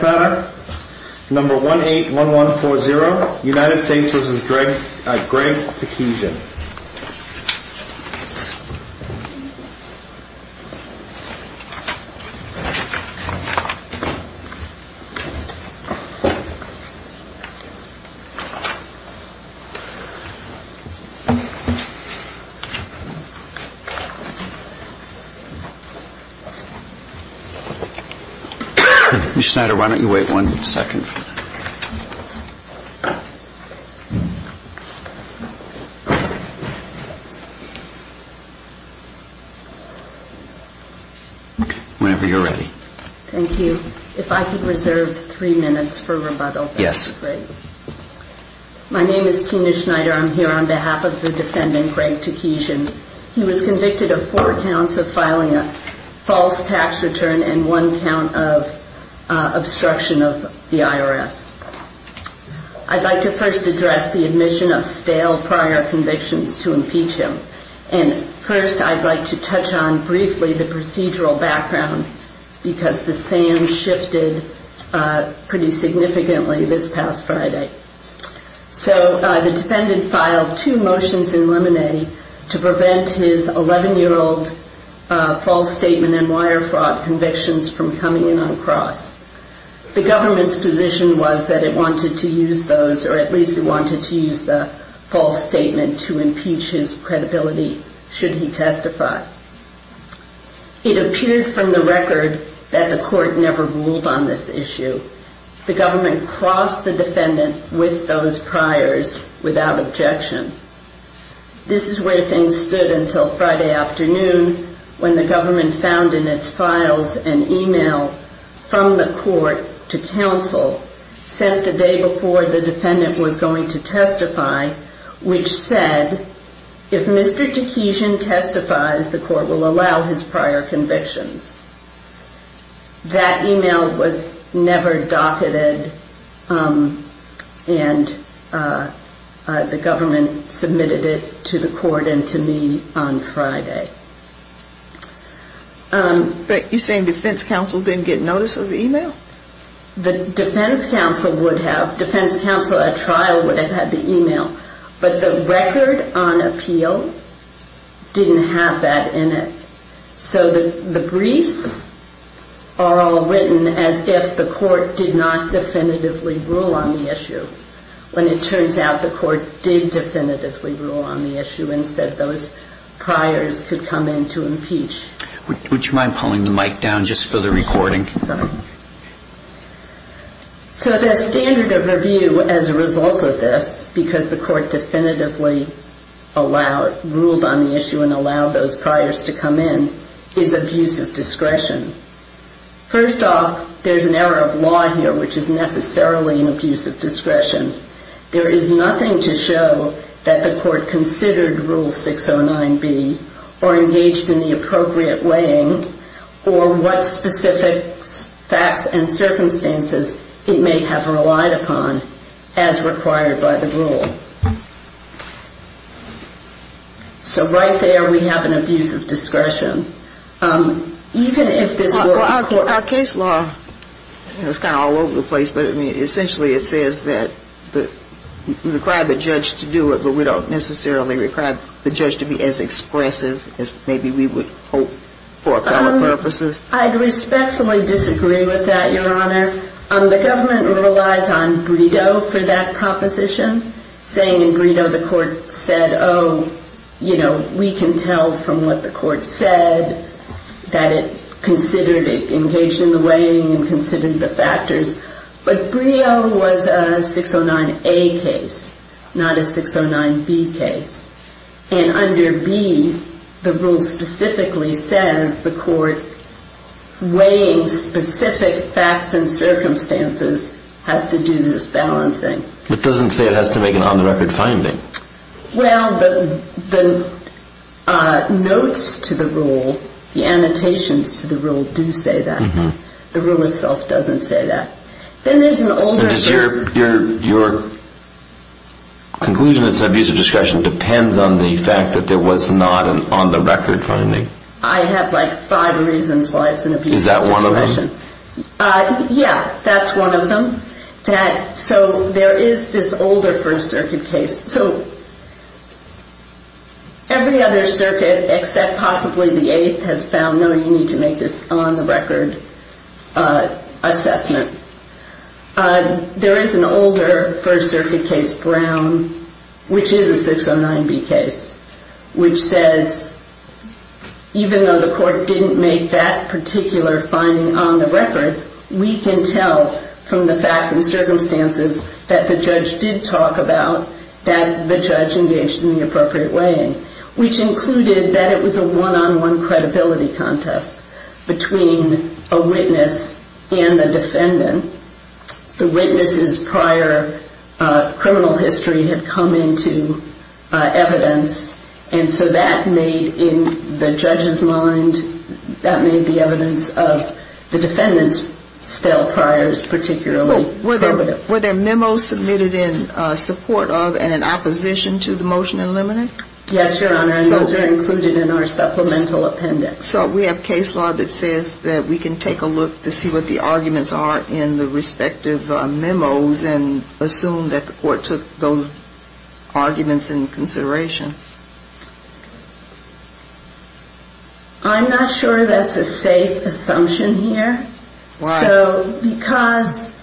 Number 181140, United States v. Greg Takesian Let me just know how to run it, can you wait one second? Whenever you're ready. Thank you. If I could reserve three minutes for rebuttal. My name is Tina Schneider, I'm here on behalf of the defendant Greg Takesian. He was convicted of four counts of filing a false tax return and one count of obstruction of the IRS. I'd like to first address the admission of stale prior convictions to impeach him. And first I'd like to touch on briefly the procedural background because the sand shifted pretty significantly this past Friday. So the defendant filed two motions in limine to prevent his 11-year-old false statement and wire fraud convictions from coming in on cross. The government's position was that it wanted to use those, or at least it wanted to use the false statement to impeach his credibility should he testify. It appeared from the record that the court never ruled on this issue. The government crossed the defendant with those priors without objection. This is where things stood until Friday afternoon when the government found in its files an email from the court to counsel sent the day before the defendant was going to testify, which said if Mr. Takesian testifies the court will allow his prior convictions. That email was never docketed and the government submitted it to the court and to me on Friday. But you're saying defense counsel didn't get notice of the email? The defense counsel would have. Defense counsel at trial would have had the email, but the record on appeal didn't have that in it. So the briefs are all written as if the court did not definitively rule on the issue, when it turns out the court did definitively rule on the issue and said those priors could come in to impeach. Would you mind pulling the mic down just for the recording? Sorry. So the standard of review as a result of this, because the court definitively ruled on the issue and allowed those priors to come in, is abuse of discretion. First off, there's an error of law here, which is necessarily an abuse of discretion. There is nothing to show that the court considered Rule 609B or engaged in the appropriate weighing or what specific facts and circumstances it may have relied upon as required by the rule. So right there we have an abuse of discretion. Our case law is kind of all over the place, but essentially it says that we require the judge to do it, but we don't necessarily require the judge to be as expressive as maybe we would hope for appellate purposes. I'd respectfully disagree with that, Your Honor. The government relies on Greedo for that proposition, saying in Greedo the court said, we can tell from what the court said that it considered it engaged in the weighing and considered the factors. But Greedo was a 609A case, not a 609B case. And under B, the rule specifically says the court weighing specific facts and circumstances has to do this balancing. It doesn't say it has to make an on-the-record finding. Well, the notes to the rule, the annotations to the rule do say that. The rule itself doesn't say that. Then there's an older case. Your conclusion that it's an abuse of discretion depends on the fact that there was not an on-the-record finding. I have like five reasons why it's an abuse of discretion. Is that one of them? Yeah, that's one of them. So there is this older First Circuit case. So every other circuit except possibly the Eighth has found, no, you need to make this on-the-record assessment. There is an older First Circuit case, Brown, which is a 609B case, which says even though the court didn't make that particular finding on the record, we can tell from the facts and circumstances that the judge did talk about that the judge engaged in the appropriate way, which included that it was a one-on-one credibility contest between a witness and the defendant. The witness's prior criminal history had come into evidence. And so that made, in the judge's mind, that made the evidence of the defendant's stale priors particularly evident. Were there memos submitted in support of and in opposition to the motion in limine? Yes, Your Honor, and those are included in our supplemental appendix. So we have case law that says that we can take a look to see what the arguments are in the respective memos and assume that the court took those arguments in consideration. I'm not sure that's a safe assumption here. Why? So because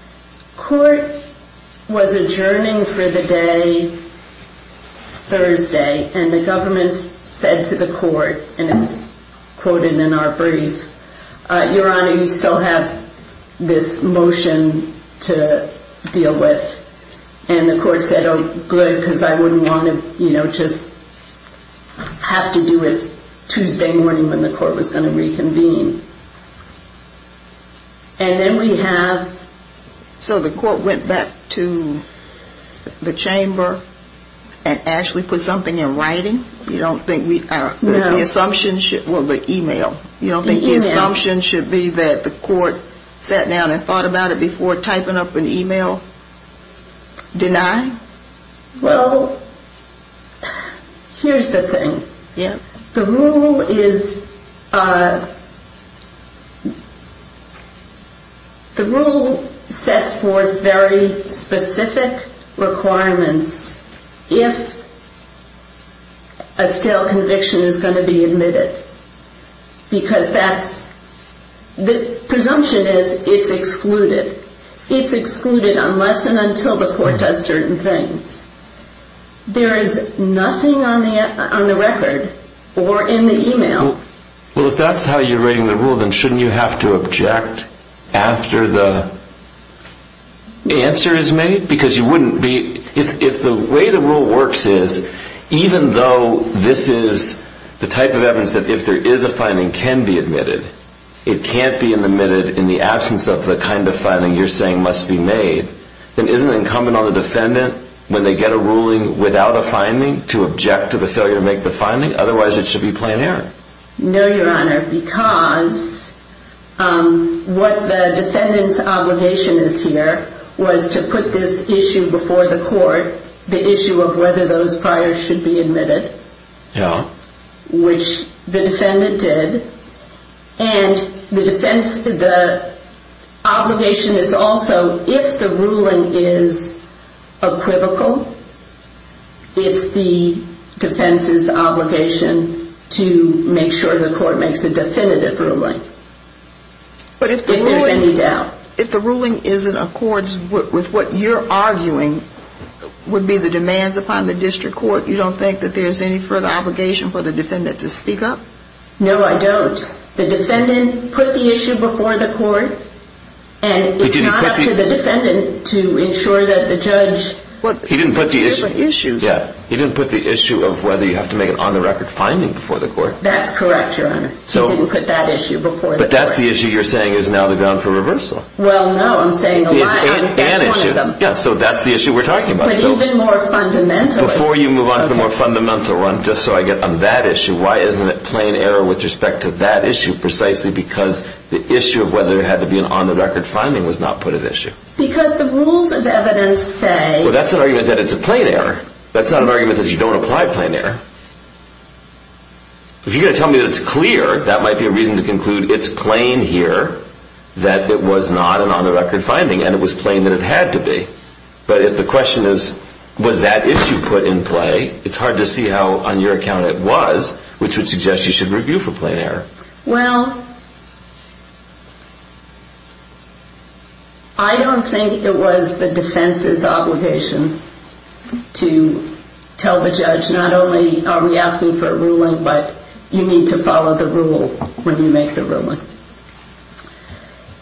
court was adjourning for the day Thursday and the government said to the court, and it's quoted in our brief, Your Honor, you still have this motion to deal with. And the court said, oh, good, because I wouldn't want to just have to do it Tuesday morning when the court was going to reconvene. So the court went back to the chamber and actually put something in writing? No. You don't think the assumption should be that the court sat down and thought about it before typing up an e-mail denying? Well, here's the thing. Yeah. The rule is, the rule sets forth very specific requirements if a stale conviction is going to be admitted. Because that's, the presumption is it's excluded. It's excluded unless and until the court does certain things. There is nothing on the record or in the e-mail. Well, if that's how you're writing the rule, then shouldn't you have to object after the answer is made? Because you wouldn't be, if the way the rule works is, even though this is the type of evidence that if there is a finding can be admitted, it can't be admitted in the absence of the kind of finding you're saying must be made, then isn't it incumbent on the defendant when they get a ruling without a finding to object to the failure to make the finding? Otherwise, it should be plain error. No, Your Honor, because what the defendant's obligation is here was to put this issue before the court, the issue of whether those priors should be admitted, which the defendant did. And the defense, the obligation is also if the ruling is equivocal, it's the defense's obligation to make sure the court makes a definitive ruling if there's any doubt. But if the ruling is in accord with what you're arguing would be the demands upon the district court, you don't think that there's any further obligation for the defendant to speak up? No, I don't. The defendant put the issue before the court, and it's not up to the defendant to ensure that the judge... He didn't put the issue of whether you have to make an on-the-record finding before the court. That's correct, Your Honor. He didn't put that issue before the court. But that's the issue you're saying is now the ground for reversal. Well, no, I'm saying a lie. That's one of them. Yeah, so that's the issue we're talking about. But even more fundamentally... Before you move on to the more fundamental one, just so I get on that issue, why isn't it plain error with respect to that issue, precisely because the issue of whether there had to be an on-the-record finding was not put at issue? Because the rules of evidence say... Well, that's an argument that it's a plain error. That's not an argument that you don't apply plain error. If you're going to tell me that it's clear, that might be a reason to conclude it's plain here that it was not an on-the-record finding, and it was plain that it had to be. But if the question is, was that issue put in play, it's hard to see how, on your account, it was, which would suggest you should review for plain error. Well, I don't think it was the defense's obligation to tell the judge, not only are we asking for a ruling, but you need to follow the rule when you make the ruling.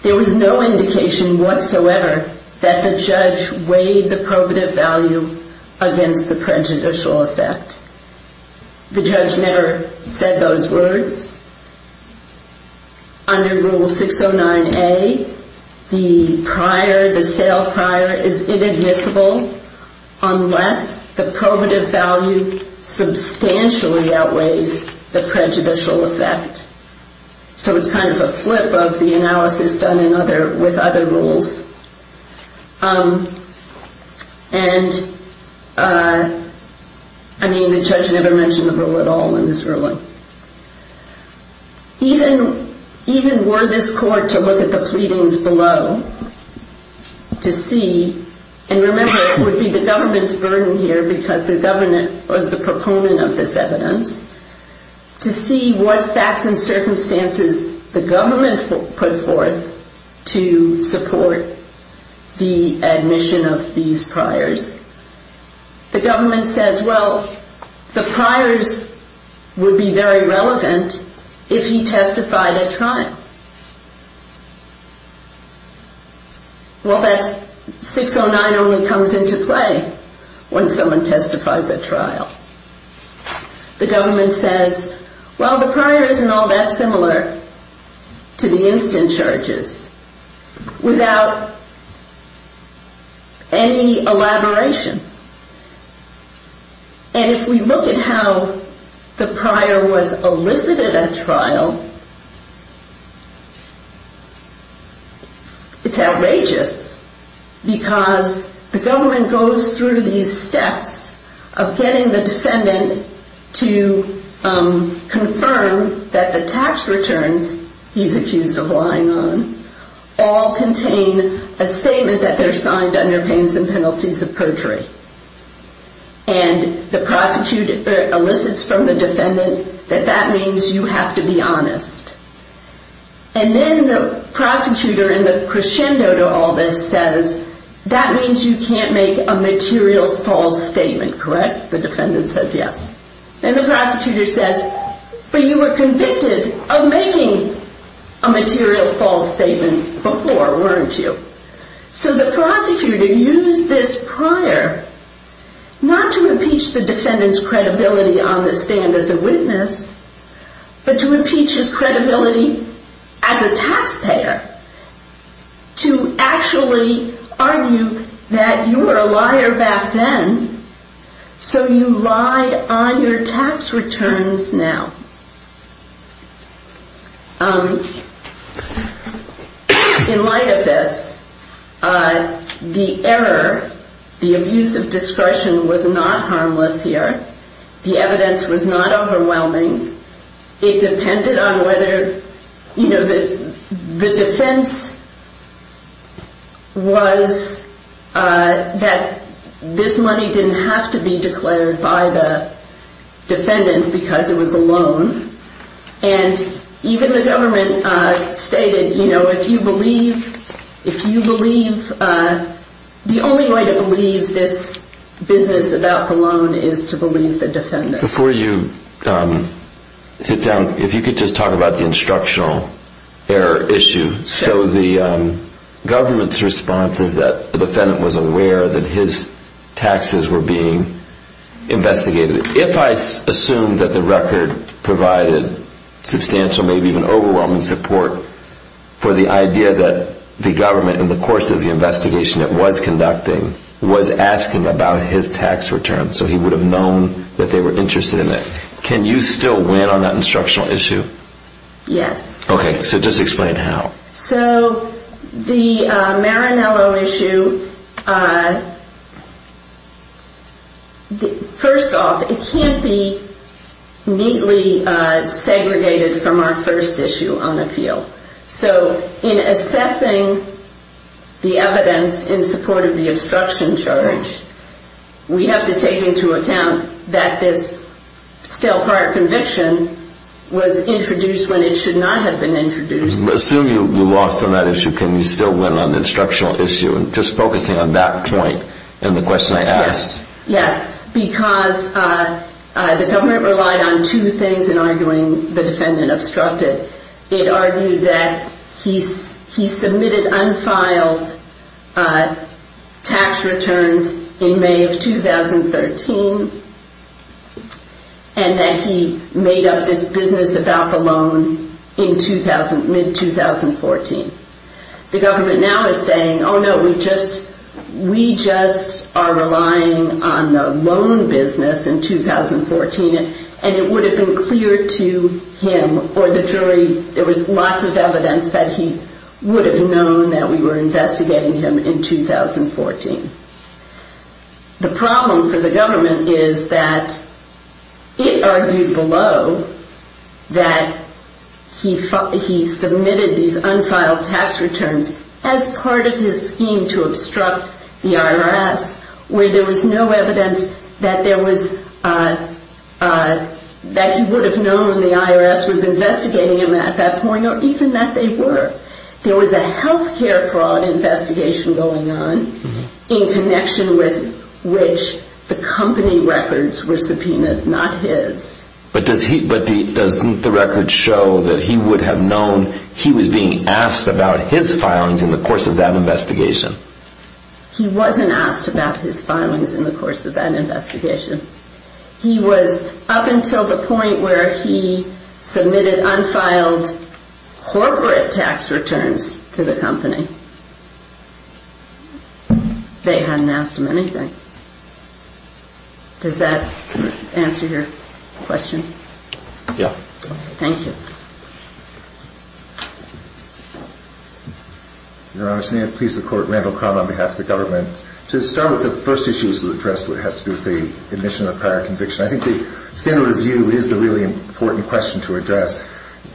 There was no indication whatsoever that the judge weighed the probative value against the prejudicial effect. The judge never said those words. Under Rule 609A, the prior, the sale prior, is inadmissible unless the probative value substantially outweighs the prejudicial effect. So it's kind of a flip of the analysis done with other rules. And, I mean, the judge never mentioned the rule at all in this ruling. Even were this court to look at the pleadings below, to see, and remember, it would be the government's burden here because the government was the proponent of this evidence, to see what facts and circumstances the government put forth to support the admission of these priors. The government says, well, the priors would be very relevant if he testified at trial. Well, that's, 609 only comes into play when someone testifies at trial. The government says, well, the prior isn't all that similar to the instant charges without any elaboration. And if we look at how the prior was elicited at trial, it's outrageous because the government goes through these steps of getting the defendant to confirm that the tax returns he's accused of lying on all contain a statement that they're signed under pains and penalties of perjury. And the prosecutor elicits from the defendant that that means you have to be honest. And then the prosecutor in the crescendo to all this says, that means you can't make a material false statement, correct? The defendant says yes. And the prosecutor says, but you were convicted of making a material false statement before, weren't you? So the prosecutor used this prior not to impeach the defendant's credibility on the stand as a witness, but to impeach his credibility as a taxpayer. To actually argue that you were a liar back then, so you lie on your tax returns now. In light of this, the error, the abuse of discretion was not harmless here. The evidence was not overwhelming. It depended on whether, you know, the defense was that this money didn't have to be declared by the defendant because it was a loan. And even the government stated, you know, if you believe, if you believe, the only way to believe this business about the loan is to believe the defendant. Before you sit down, if you could just talk about the instructional error issue. So the government's response is that the defendant was aware that his taxes were being investigated. If I assume that the record provided substantial, maybe even overwhelming support for the idea that the government, in the course of the investigation it was conducting, was asking about his tax return, so he would have known that they were interested in it. Can you still win on that instructional issue? Yes. Okay, so just explain how. So the Marinello issue, first off, it can't be neatly segregated from our first issue on appeal. So in assessing the evidence in support of the obstruction charge, we have to take into account that this stale part conviction was introduced when it should not have been introduced. Assuming you lost on that issue, can you still win on the instructional issue? Just focusing on that point and the question I asked. Yes, because the government relied on two things in arguing the defendant obstructed. It argued that he submitted unfiled tax returns in May of 2013 and that he made up this business about the loan in mid-2014. The government now is saying, oh no, we just are relying on the loan business in 2014 and it would have been clear to him or the jury, there was lots of evidence that he would have known that we were investigating him in 2014. The problem for the government is that it argued below that he submitted these unfiled tax returns as part of his scheme to obstruct the IRS where there was no evidence that he would have known the IRS was investigating him at that point or even that they were. There was a health care fraud investigation going on in connection with which the company records were subpoenaed, not his. But doesn't the record show that he would have known he was being asked about his filings in the course of that investigation? He wasn't asked about his filings in the course of that investigation. He was up until the point where he submitted unfiled corporate tax returns to the company. They hadn't asked him anything. Does that answer your question? Yeah. Thank you. Your Honor, may it please the Court, Randall Crum on behalf of the government. To start with the first issue is to address what has to do with the admission of prior conviction. I think the standard of view is the really important question to address.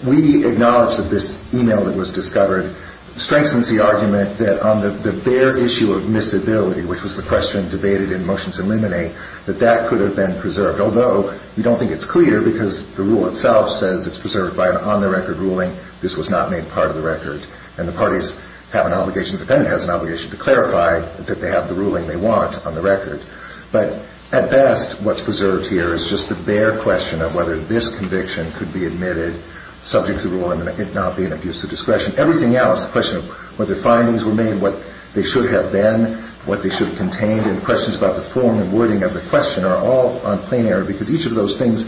We acknowledge that this e-mail that was discovered strengthens the argument that on the bare issue of miscibility, which was the question debated in Motions Eliminate, that that could have been preserved, although we don't think it's clear because the rule itself says it's preserved by an on-the-record ruling. This was not made part of the record, and the parties have an obligation, each independent has an obligation, to clarify that they have the ruling they want on the record. But at best, what's preserved here is just the bare question of whether this conviction could be admitted, subject to the rule, and it not be an abuse of discretion. Everything else, the question of whether findings were made, what they should have been, what they should have contained, and questions about the form and wording of the question are all on plain error because each of those things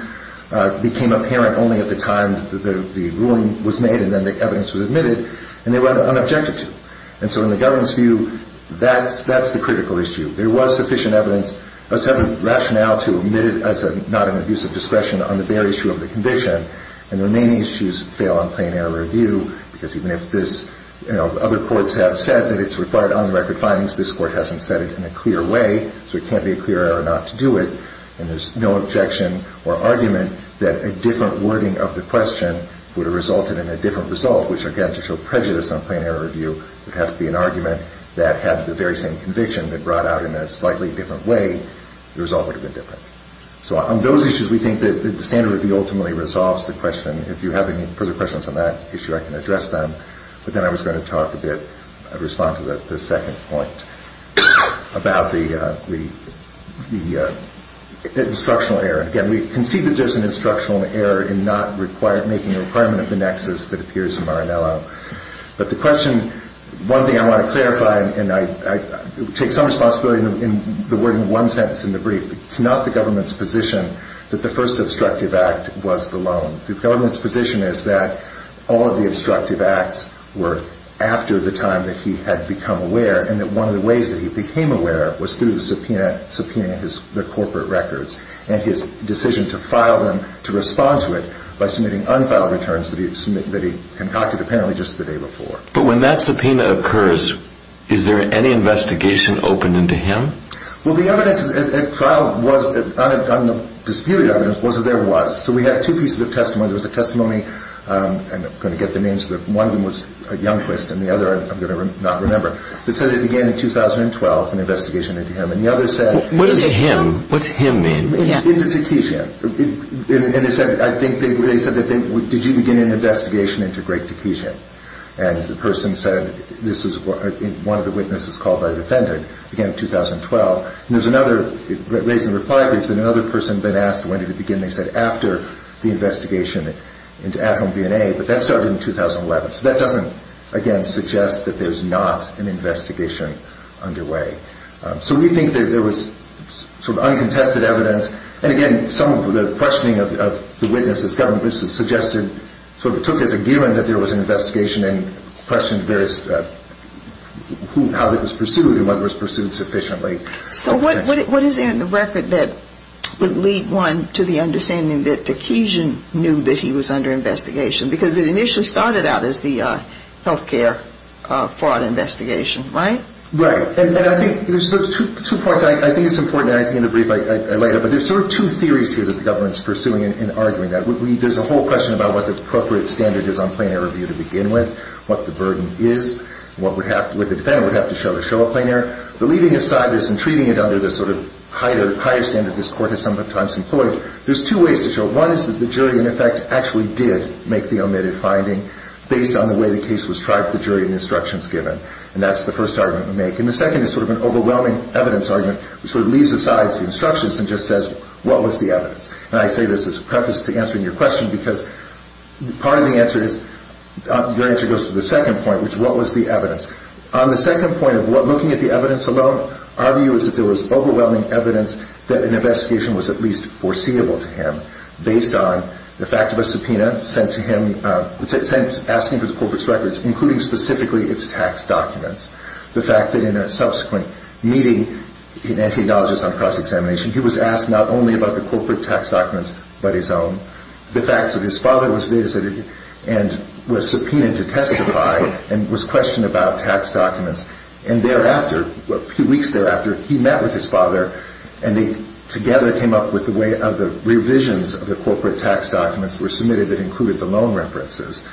became apparent only at the time that the ruling was made and then the evidence was admitted, and they were unobjected to. And so in the government's view, that's the critical issue. There was sufficient evidence, sufficient rationale to admit it as not an abuse of discretion on the bare issue of the conviction, and the remaining issues fail on plain error review because even if other courts have said that it's required on-the-record findings, this Court hasn't said it in a clear way, so it can't be a clear error not to do it, and there's no objection or argument that a different wording of the question would have resulted in a different result, which, again, to show prejudice on plain error review, would have to be an argument that had the very same conviction but brought out in a slightly different way, the result would have been different. So on those issues, we think that the standard review ultimately resolves the question. If you have any further questions on that issue, I can address them. But then I was going to talk a bit, respond to the second point about the instructional error. Again, we concede that there's an instructional error in not making a requirement of the nexus that appears in Maranello. But the question, one thing I want to clarify, and I take some responsibility in the wording of one sentence in the brief, it's not the government's position that the first obstructive act was the loan. The government's position is that all of the obstructive acts were after the time that he had become aware and that one of the ways that he became aware was through subpoenaing the corporate records and his decision to file them, to respond to it, by submitting unfiled returns that he concocted apparently just the day before. But when that subpoena occurs, is there any investigation open into him? Well, the evidence at trial was, on the disputed evidence, was that there was. So we had two pieces of testimony. There was a testimony, and I'm going to get the names, one of them was Youngquist and the other I'm going to not remember, that said it began in 2012, an investigation into him. What does it him? What's him mean? It means into Tekijian. And they said, I think they said, did you begin an investigation into Greg Tekijian? And the person said, this is one of the witnesses called by the defendant, began in 2012. And there's another, raised in the reply brief, that another person had been asked when did it begin. They said after the investigation into Atom V&A, but that started in 2011. So that doesn't, again, suggest that there's not an investigation underway. So we think that there was sort of uncontested evidence. And, again, some of the questioning of the witnesses, government witnesses, suggested, sort of took as a given that there was an investigation and questioned how it was pursued and whether it was pursued sufficiently. So what is there in the record that would lead one to the understanding that Tekijian knew that he was under investigation? Because it initially started out as the health care fraud investigation, right? Right. And I think there's two points. I think it's important, and I think in the brief I laid out, but there's sort of two theories here that the government's pursuing in arguing that. There's a whole question about what the appropriate standard is on plenary review to begin with, what the burden is, what the defendant would have to show to show a plenary. But leaving aside this and treating it under the sort of higher standard this Court has sometimes employed, there's two ways to show it. One is that the jury, in effect, actually did make the omitted finding based on the way the case was tried with the jury and instructions given. And that's the first argument we make. And the second is sort of an overwhelming evidence argument, which sort of leaves aside the instructions and just says, what was the evidence? And I say this as a preface to answering your question because part of the answer is, your answer goes to the second point, which is, what was the evidence? On the second point of looking at the evidence alone, our view is that there was overwhelming evidence that an investigation was at least foreseeable to him based on the fact of a subpoena sent to him, asking for the corporate's records, including specifically its tax documents. The fact that in a subsequent meeting, an anthropologist on cross-examination, he was asked not only about the corporate tax documents but his own. The fact that his father was visited and was subpoenaed to testify and was questioned about tax documents. And thereafter, a few weeks thereafter, he met with his father, and they together came up with a way of the revisions of the corporate tax documents that were submitted that included the loan references.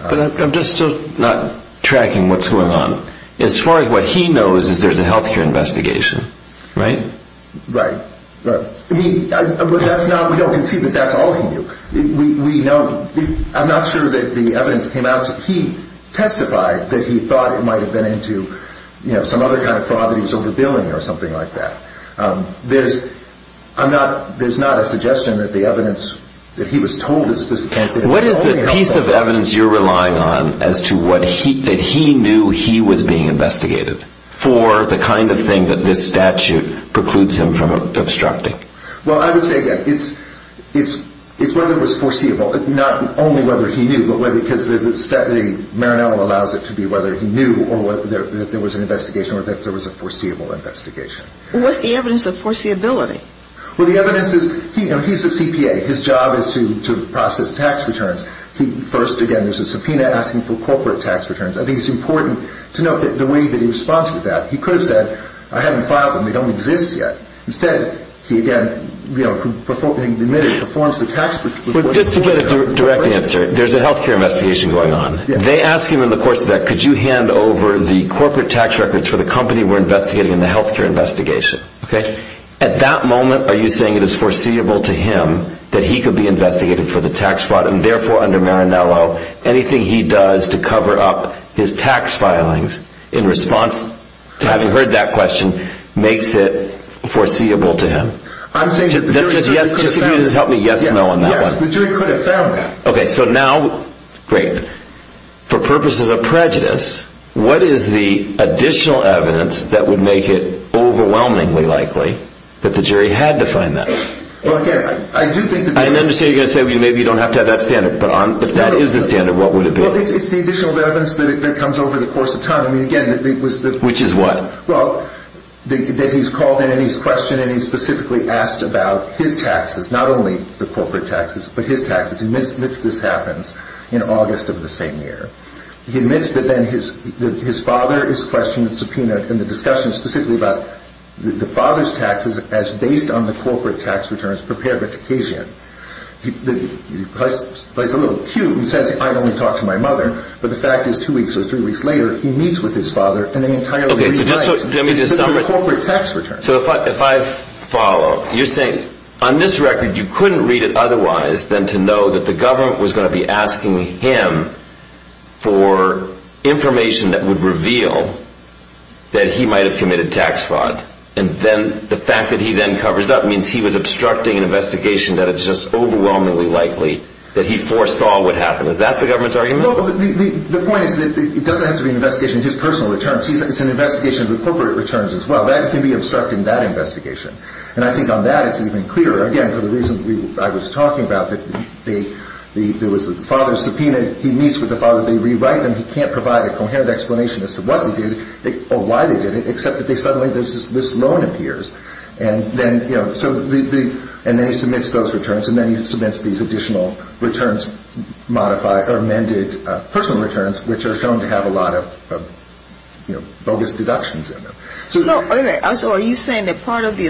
But I'm just still not tracking what's going on. As far as what he knows is there's a health care investigation, right? Right. But that's not, we don't concede that that's all he knew. We know, I'm not sure that the evidence came out. He testified that he thought it might have been into some other kind of fraud that he was over-billing or something like that. I'm not, there's not a suggestion that the evidence that he was told. What is the piece of evidence you're relying on as to what he, that he knew he was being investigated for the kind of thing that this statute precludes him from obstructing? Well, I would say that it's whether it was foreseeable. Not only whether he knew, but whether, because the statute, the Marinel allows it to be whether he knew that there was an investigation or that there was a foreseeable investigation. What's the evidence of foreseeability? Well, the evidence is, you know, he's the CPA. His job is to process tax returns. First, again, there's a subpoena asking for corporate tax returns. I think it's important to note the way that he responds to that. He could have said, I haven't filed them, they don't exist yet. Instead, he again, you know, admitted, performs the tax returns. Just to get a direct answer, there's a health care investigation going on. They ask him in the course of that, could you hand over the corporate tax records for the company we're investigating in the health care investigation? At that moment, are you saying it is foreseeable to him that he could be investigated for the tax fraud, and therefore under Marinello, anything he does to cover up his tax filings in response to having heard that question makes it foreseeable to him? I'm saying that the jury could have found that. Just help me yes, no on that one. Yes, the jury could have found that. Okay, so now, great. For purposes of prejudice, what is the additional evidence that would make it overwhelmingly likely that the jury had to find that? I understand you're going to say maybe you don't have to have that standard, but if that is the standard, what would it be? It's the additional evidence that comes over the course of time. Which is what? Well, that he's called in and he's questioned and he's specifically asked about his taxes, not only the corporate taxes, but his taxes. He admits this happens in August of the same year. He admits that then his father is questioned and subpoenaed, and the discussion is specifically about the father's taxes as based on the corporate tax returns prepared by Takisian. He plays a little cue and says, I've only talked to my mother, but the fact is two weeks or three weeks later, he meets with his father and they entirely re-write the corporate tax returns. So if I follow, you're saying on this record you couldn't read it otherwise than to know that the government was going to be asking him for information that would reveal that he might have committed tax fraud. And then the fact that he then covers it up means he was obstructing an investigation that it's just overwhelmingly likely that he foresaw what happened. Is that the government's argument? The point is that it doesn't have to be an investigation of his personal returns. It's an investigation of the corporate returns as well. That can be obstructing that investigation. And I think on that it's even clearer. Again, for the reason I was talking about, there was the father subpoenaed, he meets with the father, they re-write them. He can't provide a coherent explanation as to what he did or why they did it, except that suddenly this loan appears. And then, you know, and then he submits those returns and then he submits these additional returns modified or amended personal returns, which are shown to have a lot of, you know, bogus deductions in them. So are you saying that part of the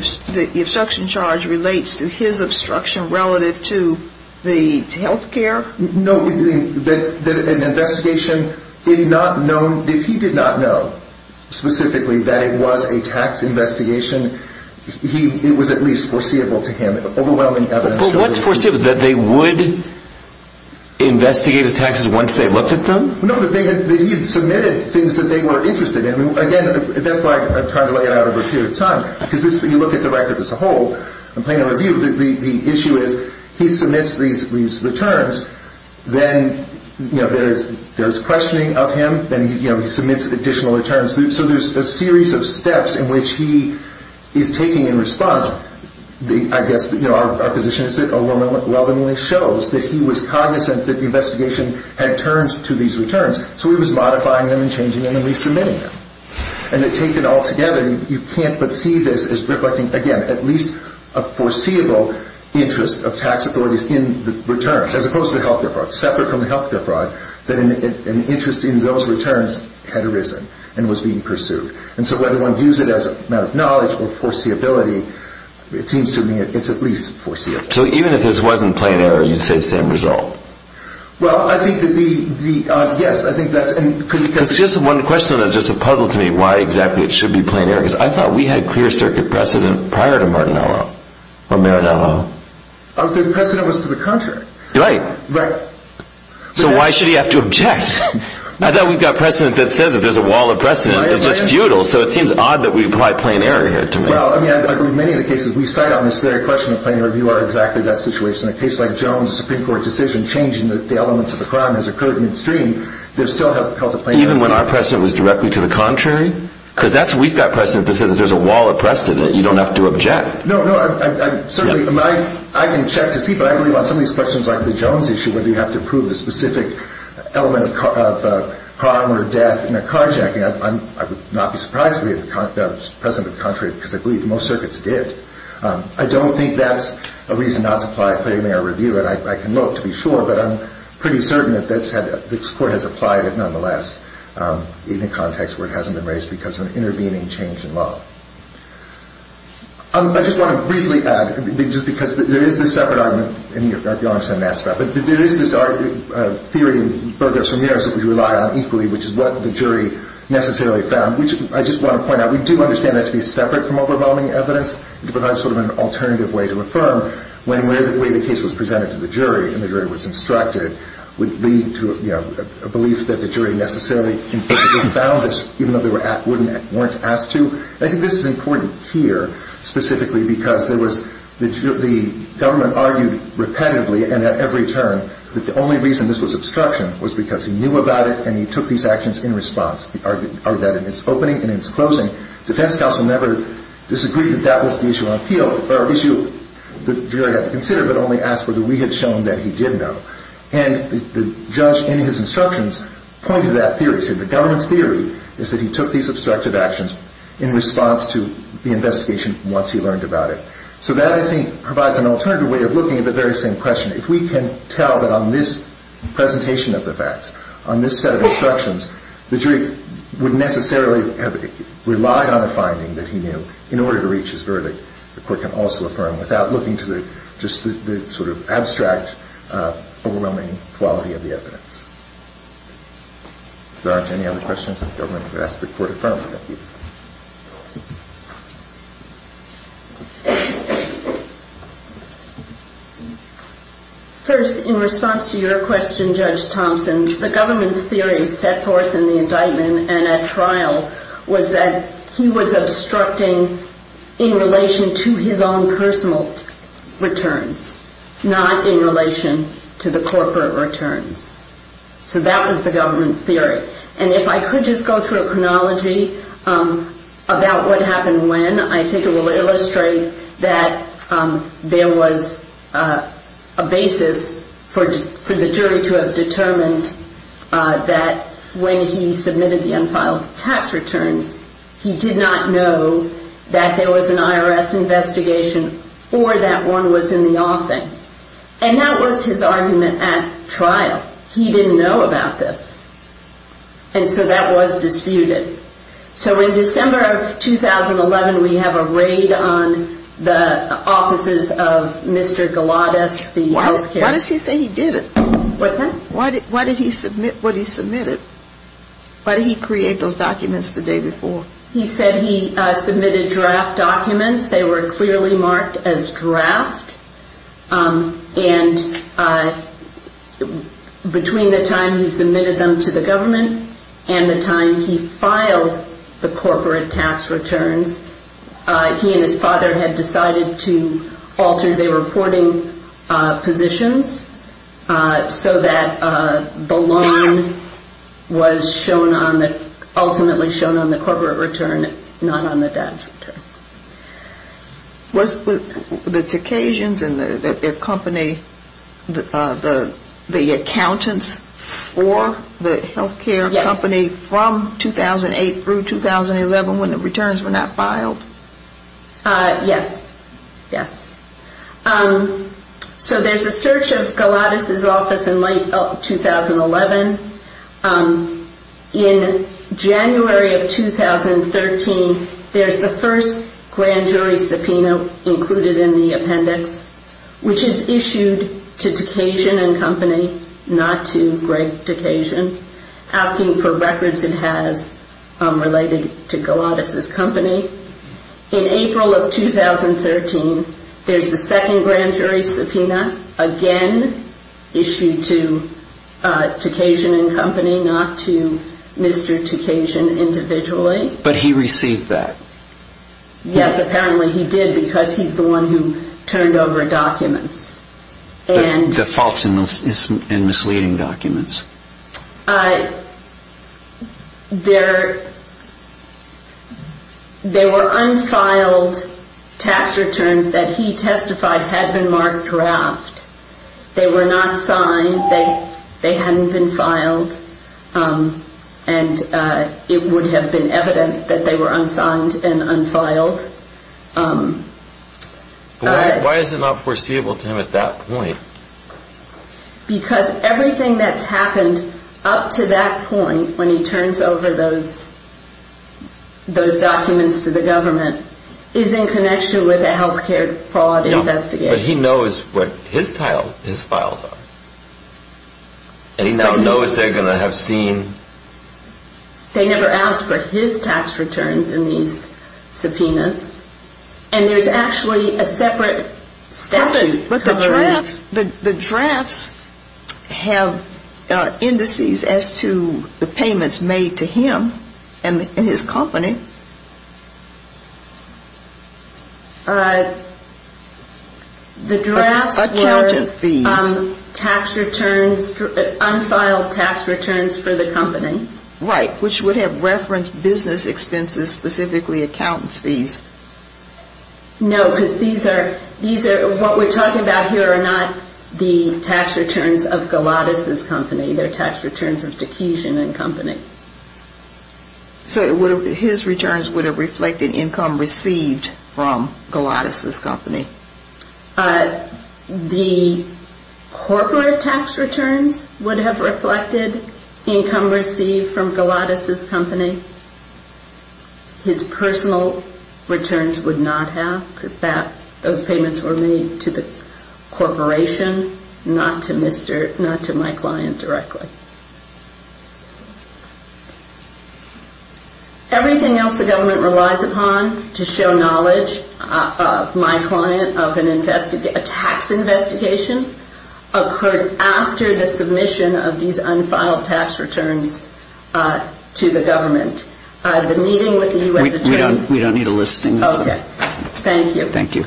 obstruction charge relates to his obstruction relative to the health care? No, that an investigation, if he did not know specifically that it was a tax investigation, it was at least foreseeable to him. Overwhelming evidence. But what's foreseeable, that they would investigate his taxes once they looked at them? No, that he had submitted things that they were interested in. Again, that's why I'm trying to lay it out over a period of time, because this thing, you look at the record as a whole, the plaintiff review, the issue is he submits these returns, then, you know, there's questioning of him, then, you know, he submits additional returns. So there's a series of steps in which he is taking in response. I guess, you know, our position is that overwhelmingly shows that he was cognizant that the investigation had turned to these returns. So he was modifying them and changing them and resubmitting them. And it taken all together, you can't but see this as reflecting, again, at least a foreseeable interest of tax authorities in the returns, as opposed to health care fraud, separate from the health care fraud, that an interest in those returns had arisen and was being pursued. And so whether one views it as a matter of knowledge or foreseeability, it seems to me it's at least foreseeable. So even if this wasn't plain error, you'd say the same result? Well, I think that the, yes, I think that's. Because just one question that's just a puzzle to me, why exactly it should be plain error, because I thought we had clear circuit precedent prior to Martinello or Marinello. The precedent was to the contrary. Right. Right. So why should he have to object? I thought we've got precedent that says if there's a wall of precedent, it's just futile. So it seems odd that we apply plain error here to me. Well, I mean, I believe many of the cases we cite on this very question of plaintiff review are exactly that situation. In a case like Jones, a Supreme Court decision changing the elements of the crime has occurred midstream. There's still held to plain error. Even when our precedent was directly to the contrary? Because that's, we've got precedent that says if there's a wall of precedent, you don't have to object. No, no, I'm certainly, I mean, I can check to see, but I believe on some of these questions like the Jones issue, whether you have to prove the specific element of crime or death in a carjacking, I would not be surprised if we had precedent to the contrary, because I believe most circuits did. I don't think that's a reason not to apply plain error review. And I can look to be sure, but I'm pretty certain that the court has applied it nonetheless, even in contexts where it hasn't been raised because of intervening change in law. I just want to briefly add, just because there is this separate argument, and you're going to have to ask about it, but there is this theory that we rely on equally, which is what the jury necessarily found, which I just want to point out. We do understand that to be separate from overwhelming evidence and to provide sort of an alternative way to affirm when the way the case was presented to the jury and the jury was instructed would lead to a belief that the jury necessarily implicitly found this, even though they weren't asked to. I think this is important here specifically because there was, the government argued repetitively and at every turn that the only reason this was obstruction was because he knew about it and he took these actions in response. He argued that in his opening and in his closing, defense counsel never disagreed that that was the issue on appeal, or issue the jury had to consider, but only asked whether we had shown that he did know. And the judge in his instructions pointed to that theory, said the government's theory is that he took these obstructive actions in response to the investigation once he learned about it. So that, I think, provides an alternative way of looking at the very same question. If we can tell that on this presentation of the facts, on this set of evidence, that he would necessarily have relied on a finding that he knew in order to reach his verdict, the court can also affirm without looking to the sort of abstract overwhelming quality of the evidence. If there aren't any other questions, the government would ask the court to affirm. Thank you. First, in response to your question, Judge Thompson, the government's theory set forth in the indictment and at trial was that he was obstructing in relation to his own personal returns, not in relation to the corporate returns. So that was the government's theory. And if I could just go through a chronology about what happened when, I think it will illustrate that there was a basis for the jury to have thought that when he submitted the unfiled tax returns, he did not know that there was an IRS investigation or that one was in the offing. And that was his argument at trial. He didn't know about this. And so that was disputed. So in December of 2011, we have a raid on the offices of Mr. Galates, the health care. Why does he say he did it? What's that? Why did he submit what he submitted? Why did he create those documents the day before? He said he submitted draft documents. They were clearly marked as draft. And between the time he submitted them to the government and the time he filed the corporate tax returns, he and his father had decided to alter their tax returns so that the loan was shown on, ultimately shown on the corporate return, not on the dad's return. Was the Takasians and their company, the accountants for the health care company from 2008 through 2011 when the returns were not filed? Yes. Yes. So there's a search of Galates' office in late 2011. In January of 2013, there's the first grand jury subpoena included in the appendix, which is issued to Takasian and company, not to Greg Takasian, asking for records it has related to Galates' company. In April of 2013, there's the second grand jury subpoena, again issued to Takasian and company, not to Mr. Takasian individually. But he received that. Yes, apparently he did because he's the one who turned over documents. The false and misleading documents. There were unfiled tax returns that he testified had been marked draft. They were not signed. They hadn't been filed. And it would have been evident that they were unsigned and unfiled. Why is it not foreseeable to him at that point? Because everything that's happened up to that point when he turns over those documents to the government is in connection with a health care fraud investigation. But he knows what his files are. And he now knows they're going to have seen. They never asked for his tax returns in these subpoenas. And there's actually a separate statute. But the drafts have indices as to the payments made to him and his company. The drafts were tax returns, unfiled tax returns for the company. Right, which would have referenced business expenses, specifically accountant's fees. No, because these are what we're talking about here are not the tax returns of Golodis' company. They're tax returns of Dekusian and company. So his returns would have reflected income received from Golodis' company. The corporate tax returns would have reflected income received from Golodis' company. His personal returns would not have because those payments were made to the corporation, not to my client directly. Everything else the government relies upon to show knowledge of my client of a tax investigation occurred after the submission of these unfiled tax returns to the government. The meeting with the U.S. Attorney. We don't need a listing. Okay. Thank you. Thank you.